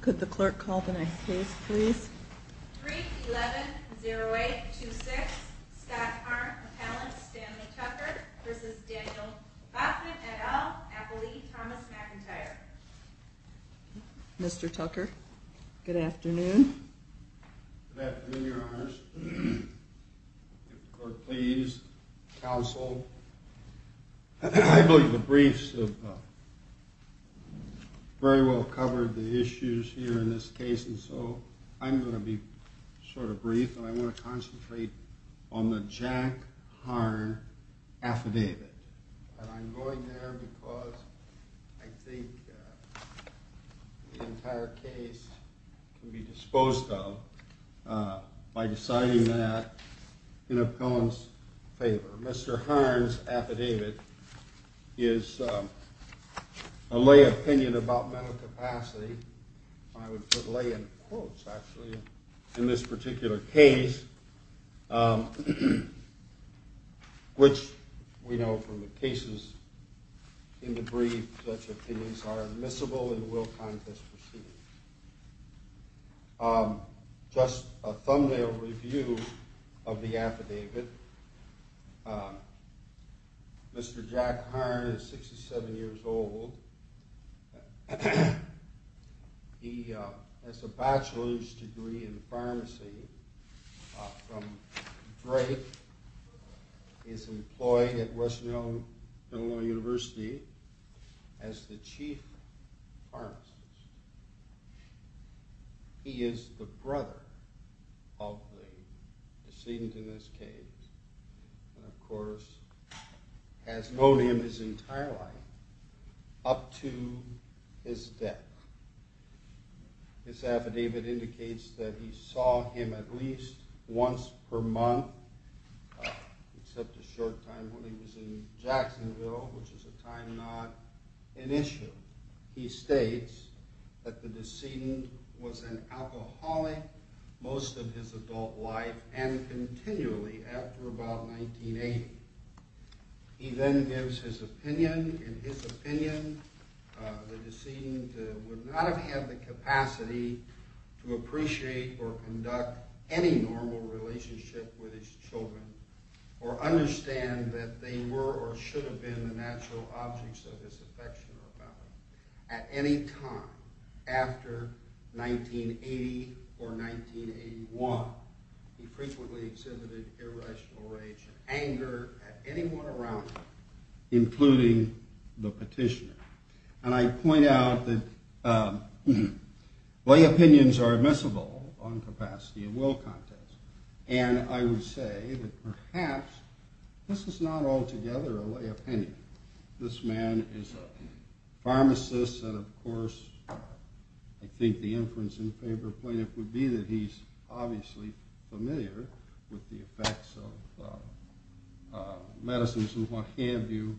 Could the clerk call the next case, please? Brief 11-0826, Scott Harn v. Stanley Tucker v. Daniel Bachman, et al., appellee, Thomas McIntyre. Mr. Tucker, good afternoon. Good afternoon, Your Honors. Clerk, please. Counsel. I believe the briefs have very well covered the issues here in this case, and so I'm going to be sort of brief, and I want to concentrate on the Jack Harn affidavit. And I'm going there because I think the entire case can be disposed of by deciding that in a Cohen's favor. Mr. Harn's affidavit is a lay opinion about mental capacity. I would put lay in quotes, actually, in this particular case, which we know from the cases in the brief such opinions are admissible and will contest proceedings. Just a thumbnail review of the affidavit. Mr. Jack Harn is 67 years old. He has a bachelor's degree in pharmacy from Drake. He's employed at Western Illinois University as the chief pharmacist. He is the brother of the decedent in this case, and of course has known him his entire life up to his death. His affidavit indicates that he saw him at least once per month, except a short time when he was in Jacksonville, which is a time not an issue. He states that the decedent was an alcoholic most of his adult life and continually after about 1980. He then gives his opinion. In his opinion, the decedent would not have had the capacity to appreciate or conduct any normal relationship with his children or understand that they were or should have been the natural objects of his affection or love. At any time after 1980 or 1981, he frequently exhibited irrational rage and anger at anyone around him, including the petitioner. And I point out that lay opinions are admissible on capacity and will contest, and I would say that perhaps this is not altogether a lay opinion. This man is a pharmacist, and of course I think the inference in favor of Plaintiff would be that he's obviously familiar with the effects of medicines and what have you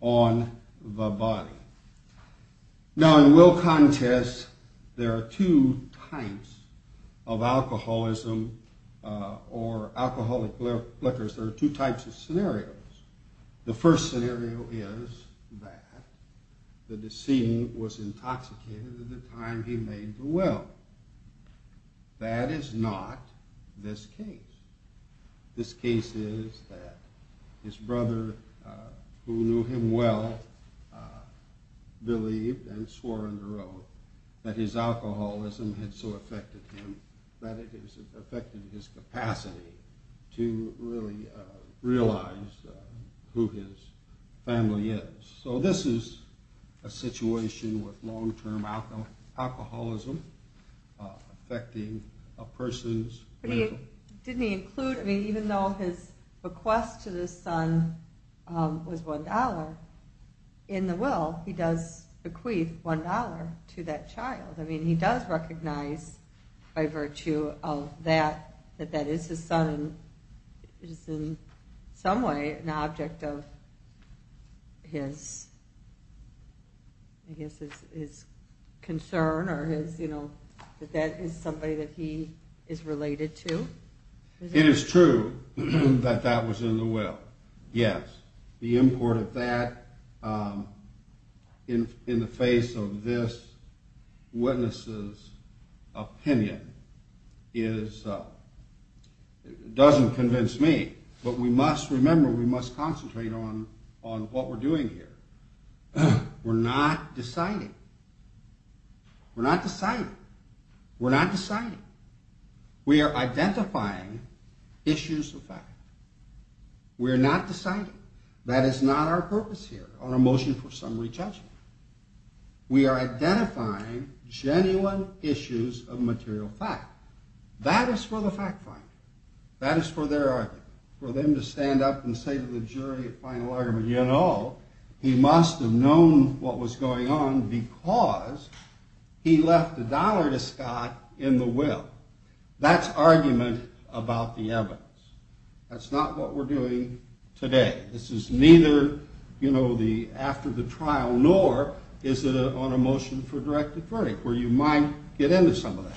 on the body. Now in will contest, there are two types of alcoholism or alcoholic liquors. There are two types of scenarios. The first scenario is that the decedent was intoxicated at the time he made the will. Now that is not this case. This case is that his brother, who knew him well, believed and swore on the road that his alcoholism had so affected him that it has affected his capacity to really realize who his family is. So this is a situation with long-term alcoholism affecting a person's will. Even though his request to the son was $1, in the will he does bequeath $1 to that child. I mean he does recognize by virtue of that that that is his son and is in some way an object of his concern or that that is somebody that he is related to. It is true that that was in the will, yes. The import of that in the face of this witness's opinion doesn't convince me, but we must remember we must concentrate on what we're doing here. We're not deciding. We're not deciding. We're not deciding. We are identifying issues of fact. We're not deciding. That is not our purpose here, our motion for summary judgment. We are identifying genuine issues of material fact. That is for the fact finder. That is for their argument. For them to stand up and say to the jury at final argument, you know, he must have known what was going on because he left $1 to Scott in the will. That's argument about the evidence. That's not what we're doing today. This is neither, you know, the after the trial nor is it on a motion for directed verdict where you might get into some of that.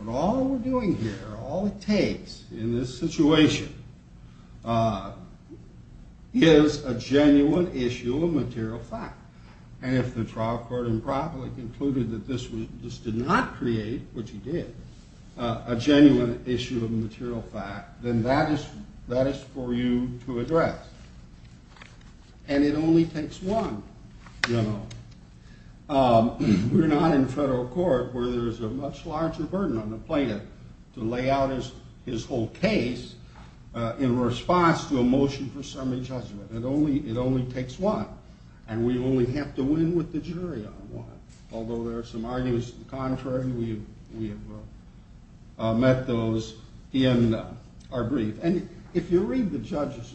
But all we're doing here, all it takes in this situation is a genuine issue of material fact. And if the trial court improperly concluded that this did not create, which it did, a genuine issue of material fact, then that is for you to address. And it only takes one, you know. We're not in federal court where there's a much larger burden on the plaintiff to lay out his whole case in response to a motion for summary judgment. It only takes one. And we only have to win with the jury on one. Although there are some arguments to the contrary, we have met those in our brief. And if you read the judge's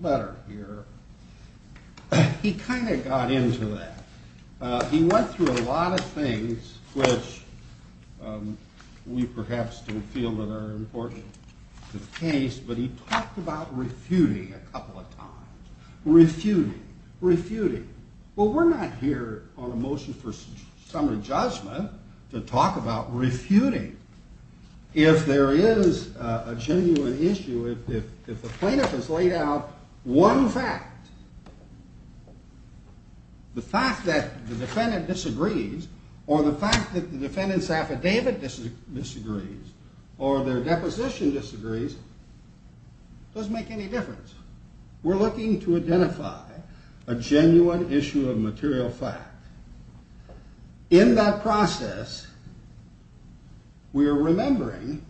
letter here, he kind of got into that. He went through a lot of things which we perhaps don't feel that are important to the case, but he talked about refuting a couple of times. Refuting, refuting. Well, we're not here on a motion for summary judgment to talk about refuting. If there is a genuine issue, if the plaintiff has laid out one fact, the fact that the defendant disagrees or the fact that the defendant's affidavit disagrees or their deposition disagrees doesn't make any difference. We're looking to identify a genuine issue of material fact. In that process, we are remembering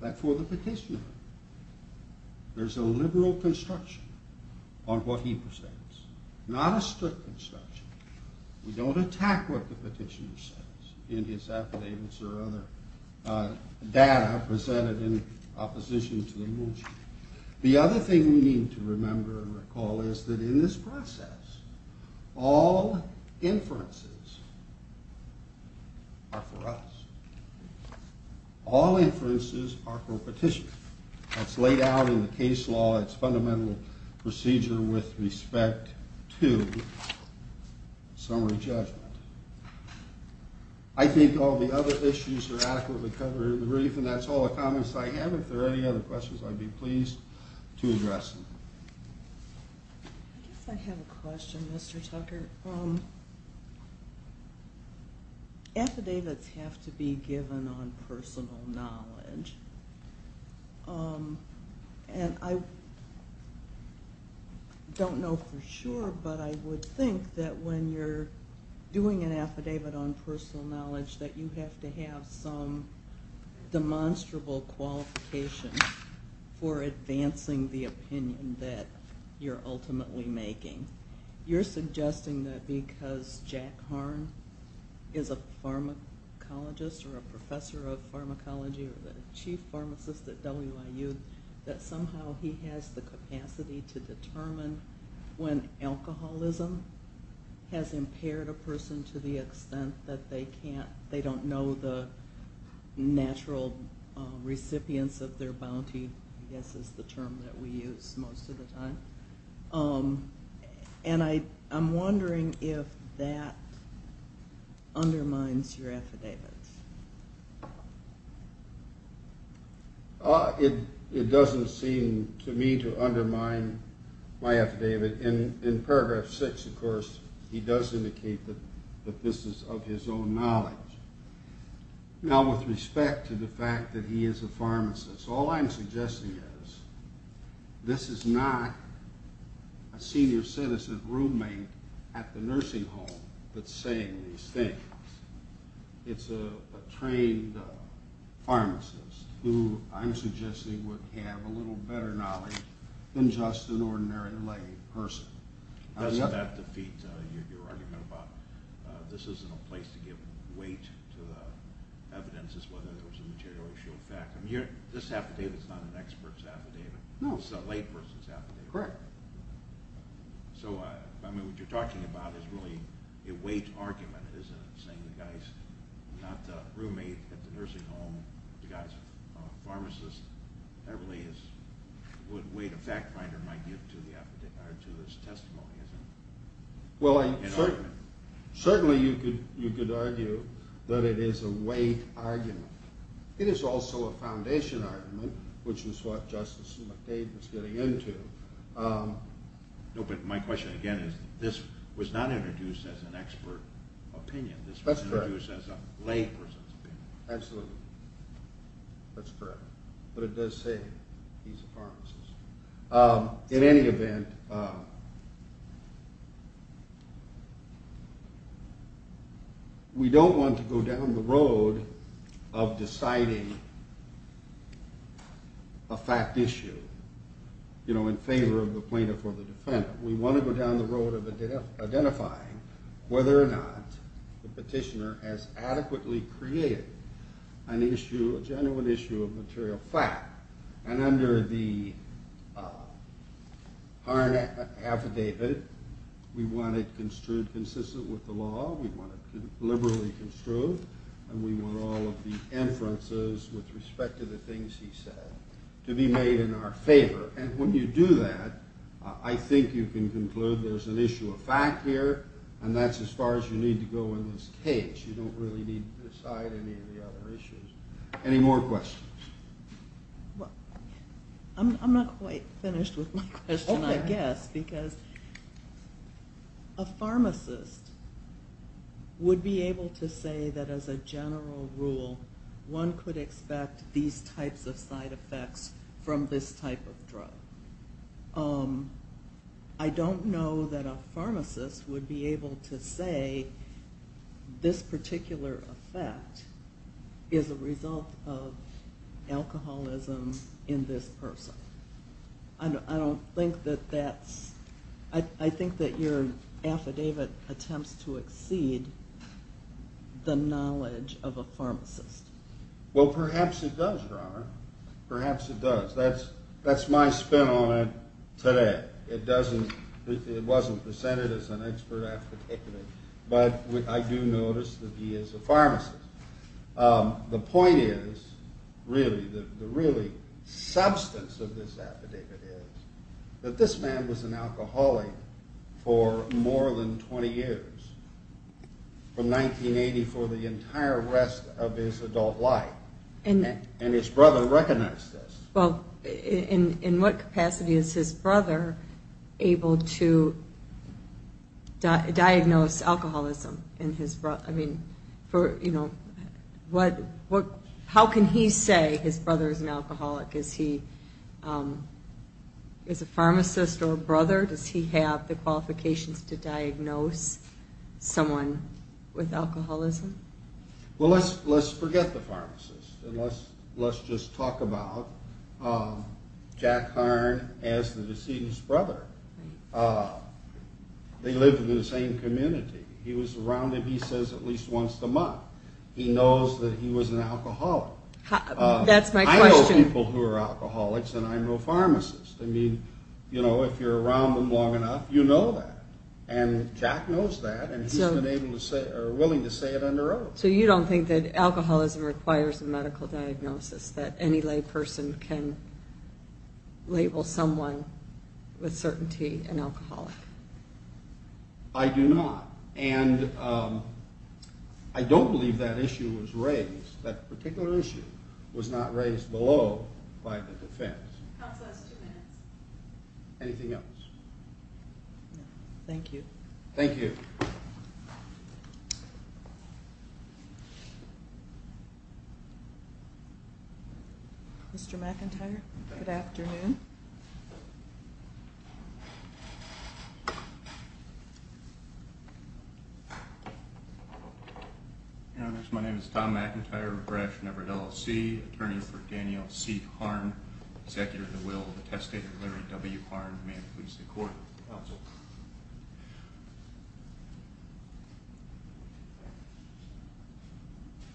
that for the petitioner, there's a liberal construction on what he presents, not a strict construction. We don't attack what the petitioner says in his affidavits or other data presented in opposition to the motion. The other thing we need to remember and recall is that in this process, all inferences are for us. All inferences are for a petitioner. That's laid out in the case law. It's a fundamental procedure with respect to summary judgment. I think all the other issues are adequately covered in the brief, and that's all the comments I have. If there are any other questions, I'd be pleased to address them. I guess I have a question, Mr. Tucker. Affidavits have to be given on personal knowledge. I don't know for sure, but I would think that when you're doing an affidavit on personal knowledge that you have to have some demonstrable qualification for advancing the opinion. You're suggesting that because Jack Harn is a pharmacologist or a professor of pharmacology or the chief pharmacist at WIU, that somehow he has the capacity to determine when alcoholism has impaired a person to the extent that they don't know the natural recipients of their bounty. Bounty, I guess, is the term that we use most of the time. And I'm wondering if that undermines your affidavits. It doesn't seem to me to undermine my affidavit. In paragraph 6, of course, he does indicate that this is of his own knowledge. Now, with respect to the fact that he is a pharmacist, all I'm suggesting is this is not a senior citizen roommate at the nursing home that's saying these things. It's a trained pharmacist who I'm suggesting would have a little better knowledge than just an ordinary lay person. This affidavit is not an expert's affidavit. It's a lay person's affidavit. Well, certainly you could argue that it is a weight argument. It is also a foundation argument, which is what Justice McDade was getting into. No, but my question again is this was not introduced as an expert opinion. This was introduced as a lay person's opinion. Absolutely. That's correct. But it does say he's a pharmacist. In any event, we don't want to go down the road of deciding a fact issue in favor of the plaintiff or the defendant. We want to go down the road of identifying whether or not the petitioner has adequately created an issue, a genuine issue of material fact. And under the Harn Affidavit, we want it construed consistent with the law, we want it liberally construed, and we want all of the inferences with respect to the things he said to be made in our favor. And when you do that, I think you can conclude there's an issue of fact here, and that's as far as you need to go in this case. You don't really need to decide any of the other issues. Any more questions? I'm not quite finished with my question, I guess, because a pharmacist would be able to say that as a general rule, one could expect these types of side effects from this type of drug. I don't know that a pharmacist would be able to say this particular effect is a result of alcoholism in this person. I think that your affidavit attempts to exceed the knowledge of a pharmacist. Well, perhaps it does, Your Honor. Perhaps it does. That's my spin on it today. It wasn't presented as an expert affidavit, but I do notice that he is a pharmacist. The point is, really, the substance of this affidavit is that this man was an alcoholic for more than 20 years, from 1980 for the entire rest of his adult life, and his brother recognized this. Well, in what capacity is his brother able to diagnose alcoholism? How can he say his brother is an alcoholic? Is he a pharmacist or a brother? Does he have the qualifications to diagnose someone with alcoholism? Well, let's forget the pharmacist, and let's just talk about Jack Hearn as the decedent's brother. They live in the same community. He was around him, he says, at least once a month. He knows that he was an alcoholic. I know people who are alcoholics, and I know pharmacists. I mean, if you're around them long enough, you know that. And Jack knows that, and he's been willing to say it under oath. So you don't think that alcoholism requires a medical diagnosis, that any lay person can label someone with certainty an alcoholic? I do not, and I don't believe that issue was raised. That particular issue was not raised below by the defense. Counsel has two minutes. Anything else? No, thank you. Thank you. Mr. McIntyre, good afternoon. Your Honors, my name is Tom McIntyre, a Bradshan Everett LLC, attorney for Daniel C. Hearn, executive at the will of the testator Larry W. Hearn. May it please the court. Counsel.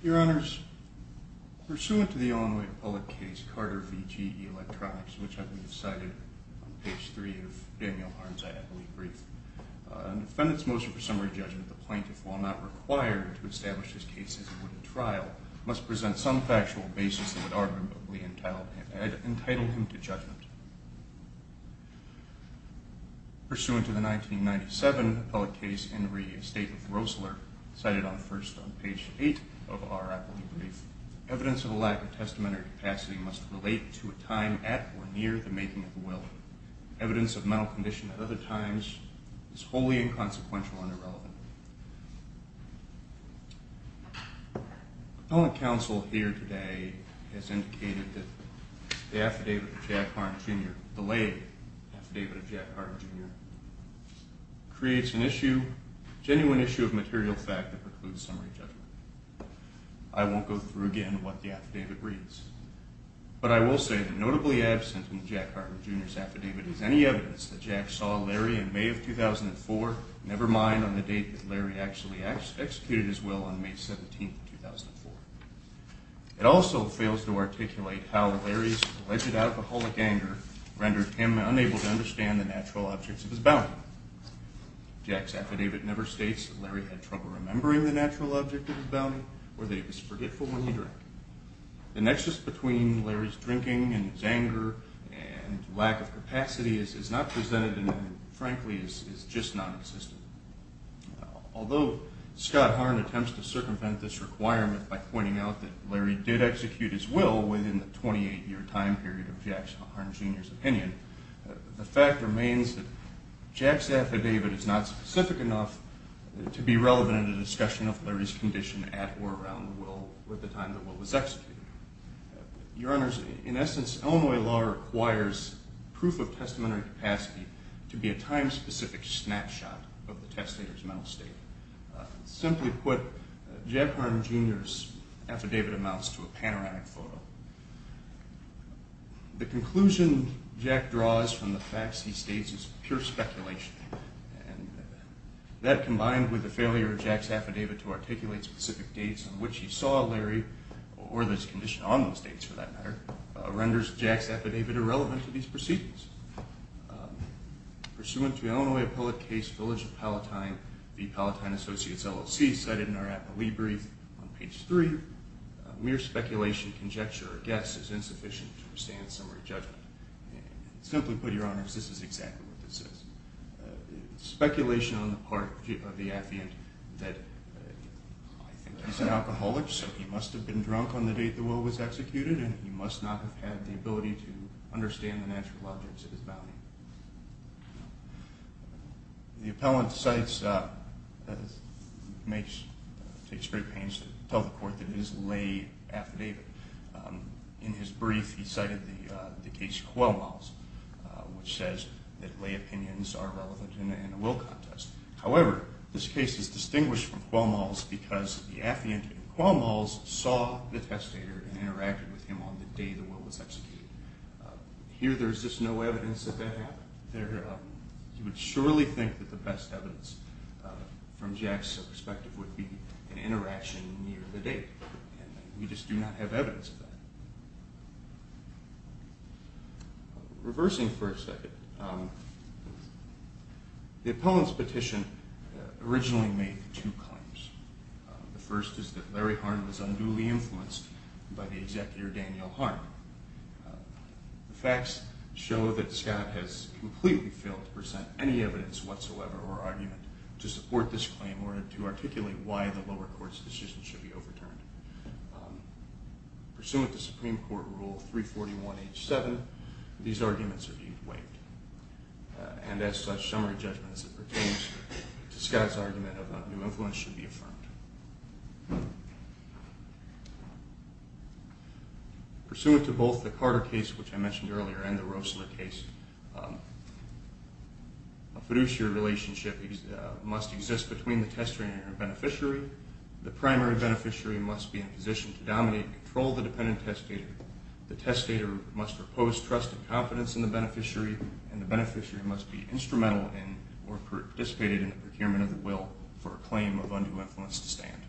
Your Honors, pursuant to the Illinois public case, Carter v. GE Electronics, which I believe is cited on page three of Daniel Hearn's affidavit brief, a defendant's motion for summary judgment, the plaintiff, while not required to establish his case as he would at trial, must present some factual basis that would arguably entitle him to judgment. Pursuant to the 1997 public case, Henry v. Rosler, cited first on page eight of our appellate brief, evidence of a lack of testamentary capacity must relate to a time at or near the making of the will. Evidence of mental condition at other times is wholly inconsequential and irrelevant. The appellate counsel here today has indicated that the affidavit of Jack Hearn Jr., the late affidavit of Jack Hearn Jr., creates an issue, a genuine issue of material fact that precludes summary judgment. I won't go through again what the affidavit reads. But I will say that notably absent in Jack Hearn Jr.'s affidavit is any evidence that Jack saw Larry in May of 2004, never mind on the date that Larry actually executed his will on May 17, 2004. It also fails to articulate how Larry's alleged alcoholic anger rendered him unable to understand the natural objects of his bounty. Jack's affidavit never states that Larry had trouble remembering the natural object of his bounty or that he was forgetful when he drank. The nexus between Larry's drinking and his anger and lack of capacity is not presented and, frankly, is just non-existent. Although Scott Hearn attempts to circumvent this requirement by pointing out that Larry did execute his will within the 28-year time period of Jack Hearn Jr.'s opinion, the fact remains that Jack's affidavit is not specific enough to be relevant in a discussion of Larry's condition at or around the time the will was executed. Your Honors, in essence, Illinois law requires proof of testamentary capacity to be a time-specific snapshot of the testator's mental state. Simply put, Jack Hearn Jr.'s affidavit amounts to a panoramic photo. The conclusion Jack draws from the facts he states is pure speculation. That, combined with the failure of Jack's affidavit to articulate specific dates on which he saw Larry, or the condition on those dates for that matter, renders Jack's affidavit irrelevant to these proceedings. Pursuant to Illinois Appellate Case, Village of Palatine v. Palatine Associates, LLC, cited in our appellee brief on page 3, mere speculation, conjecture, or guess is insufficient to withstand a summary judgment. Simply put, Your Honors, this is exactly what this is. Speculation on the part of the affiant that he's an alcoholic, so he must have been drunk on the date the will was executed, and he must not have had the ability to understand the natural objects of his bounty. The appellant takes great pains to tell the court that it is a lay affidavit. In his brief, he cited the case Quelmall's, which says that lay opinions are relevant in a will contest. However, this case is distinguished from Quelmall's because the affiant in Quelmall's saw the testator and interacted with him on the day the will was executed. Here, there is just no evidence that that happened. You would surely think that the best evidence from Jack's perspective would be an interaction near the date. We just do not have evidence of that. Reversing for a second, the appellant's petition originally made two claims. The first is that Larry Harn was unduly influenced by the executor, Daniel Harn. The facts show that Scott has completely failed to present any evidence whatsoever or argument to support this claim in order to articulate why the lower court's decision should be overturned. Pursuant to Supreme Court Rule 341H7, these arguments are being waived. And as such, summary judgment as it pertains to Scott's argument of undue influence should be affirmed. Pursuant to both the Carter case, which I mentioned earlier, and the Roessler case, a fiduciary relationship must exist between the testator and the beneficiary. The primary beneficiary must be in a position to dominate and control the dependent testator. The testator must repose trust and confidence in the beneficiary. And the beneficiary must be instrumental in or participated in the procurement of the will for a claim of undue influence to stand.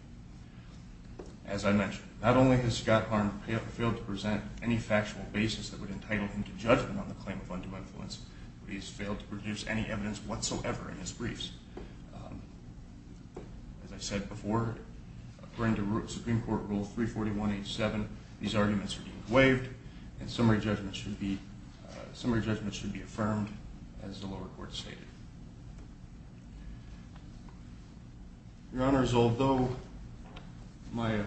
As I mentioned, not only has Scott Harn failed to present any factual basis that would entitle him to judgment on the claim of undue influence, but he has failed to produce any evidence whatsoever in his briefs. As I said before, according to Supreme Court Rule 341H7, these arguments are being waived. And summary judgment should be affirmed, as the lower court stated. Your Honors, although my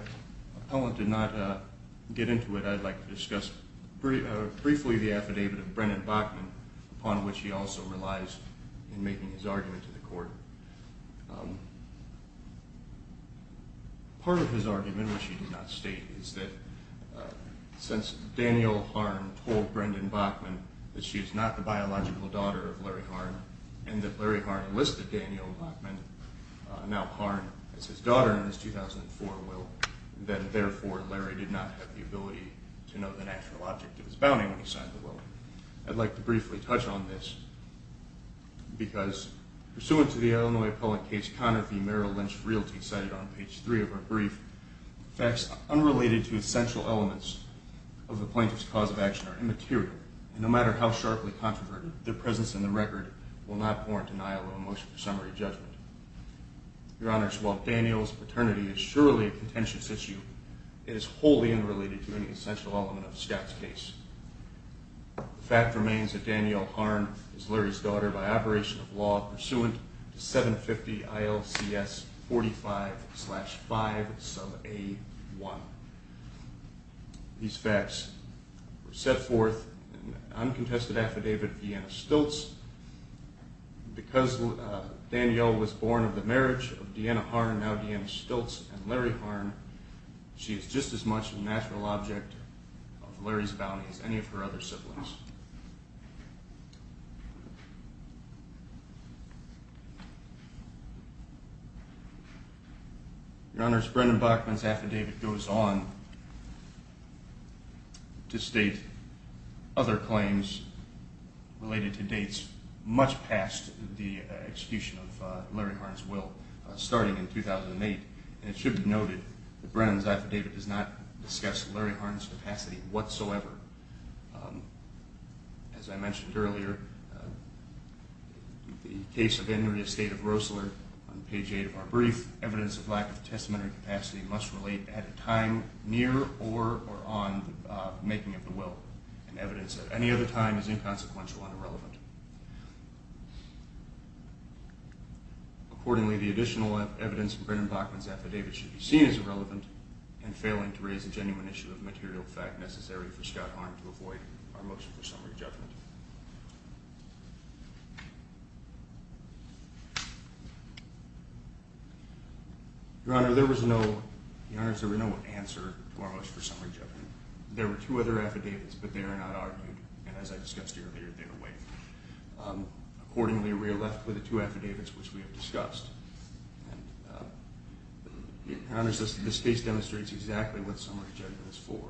appellant did not get into it, I'd like to discuss briefly the affidavit of Brennan Bachman, upon which he also relies in making his argument to the court. Part of his argument, which he did not state, is that since Daniel Harn told Brennan Bachman that she is not the biological daughter of Larry Harn, and that Larry Harn enlisted Daniel Bachman, now Harn, as his daughter in his 2004 will, then therefore Larry did not have the ability to know the natural object of his bounding when he signed the will. I'd like to briefly touch on this, because pursuant to the Illinois appellant case, Conner v. Merrill Lynch Freelty, cited on page 3 of our brief, facts unrelated to essential elements of the plaintiff's cause of action are immaterial, and no matter how sharply controverted, their presence in the record will not warrant denial or motion for summary judgment. Your Honors, while Daniel's paternity is surely a contentious issue, it is wholly unrelated to any essential element of Scott's case. The fact remains that Daniel Harn is Larry's daughter by operation of law pursuant to 750 ILCS 45-5-1. These facts were set forth in the uncontested affidavit of Deanna Stiltz. Because Daniel was born of the marriage of Deanna Harn, now Deanna Stiltz, and Larry Harn, she is just as much a natural object of Larry's bounding as any of her other siblings. Your Honors, Brendan Bachman's affidavit goes on to state other claims related to dates much past the execution of Larry Harn's will, starting in 2008, and it should be noted that Brendan's affidavit does not discuss Larry Harn's capacity whatsoever. As I mentioned earlier, the case of Henry Estate of Rosler, on page 8 of our brief, evidence of lack of testamentary capacity must relate at a time near or on the making of the will, and evidence at any other time is inconsequential and irrelevant. Accordingly, the additional evidence in Brendan Bachman's affidavit should be seen as irrelevant and failing to raise a genuine issue of material fact necessary for Scott Harn to avoid our motion for summary judgment. Your Honor, there was no answer to our motion for summary judgment. There were two other affidavits, but they are not argued, and as I discussed earlier, they are waived. Accordingly, we are left with the two affidavits which we have discussed. Your Honor, this case demonstrates exactly what summary judgment is for.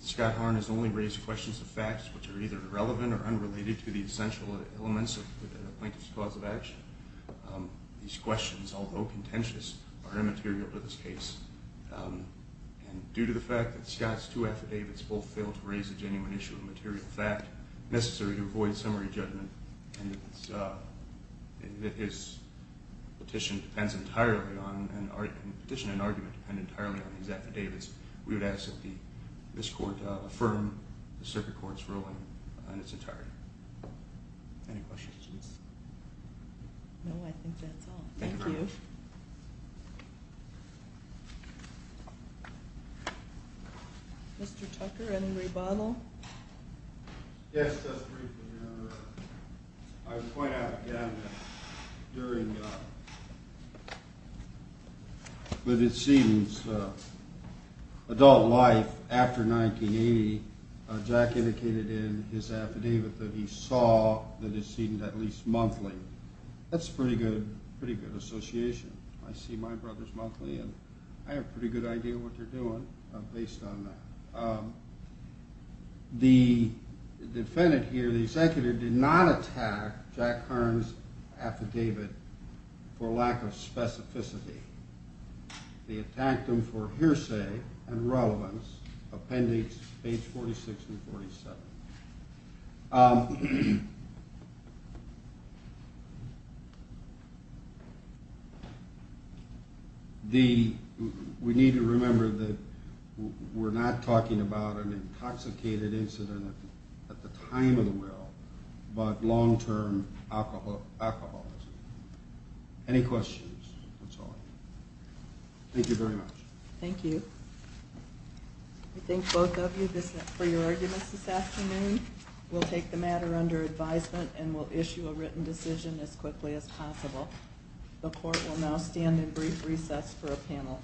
Scott Harn has only raised questions of facts which are either irrelevant or unrelated to the essential elements of a plaintiff's cause of action. These questions, although contentious, are immaterial to this case. Due to the fact that Scott's two affidavits both fail to raise a genuine issue of material fact necessary to avoid summary judgment, and that his petition and argument depend entirely on these affidavits, we would ask that this court affirm the circuit court's ruling in its entirety. Any questions? No, I think that's all. Thank you. Mr. Tucker, any rebuttal? Yes, just briefly, Your Honor. I would point out again that during Lydon Seaton's adult life after 1980, Jack indicated in his affidavit that he saw Lydon Seaton at least monthly. That's a pretty good association. I see my brothers monthly, and I have a pretty good idea what they're doing based on that. The defendant here, the executive, did not attack Jack Harn's affidavit for lack of specificity. They attacked him for hearsay and relevance, appendix page 46 and 47. We need to remember that we're not talking about an intoxicated incident at the time of the well, but long-term alcoholism. Any questions? That's all. Thank you very much. Thank you. I thank both of you for your arguments this afternoon. We'll take the matter under advisement and we'll issue a written decision as quickly as possible. The court will now stand in brief recess for a panel change.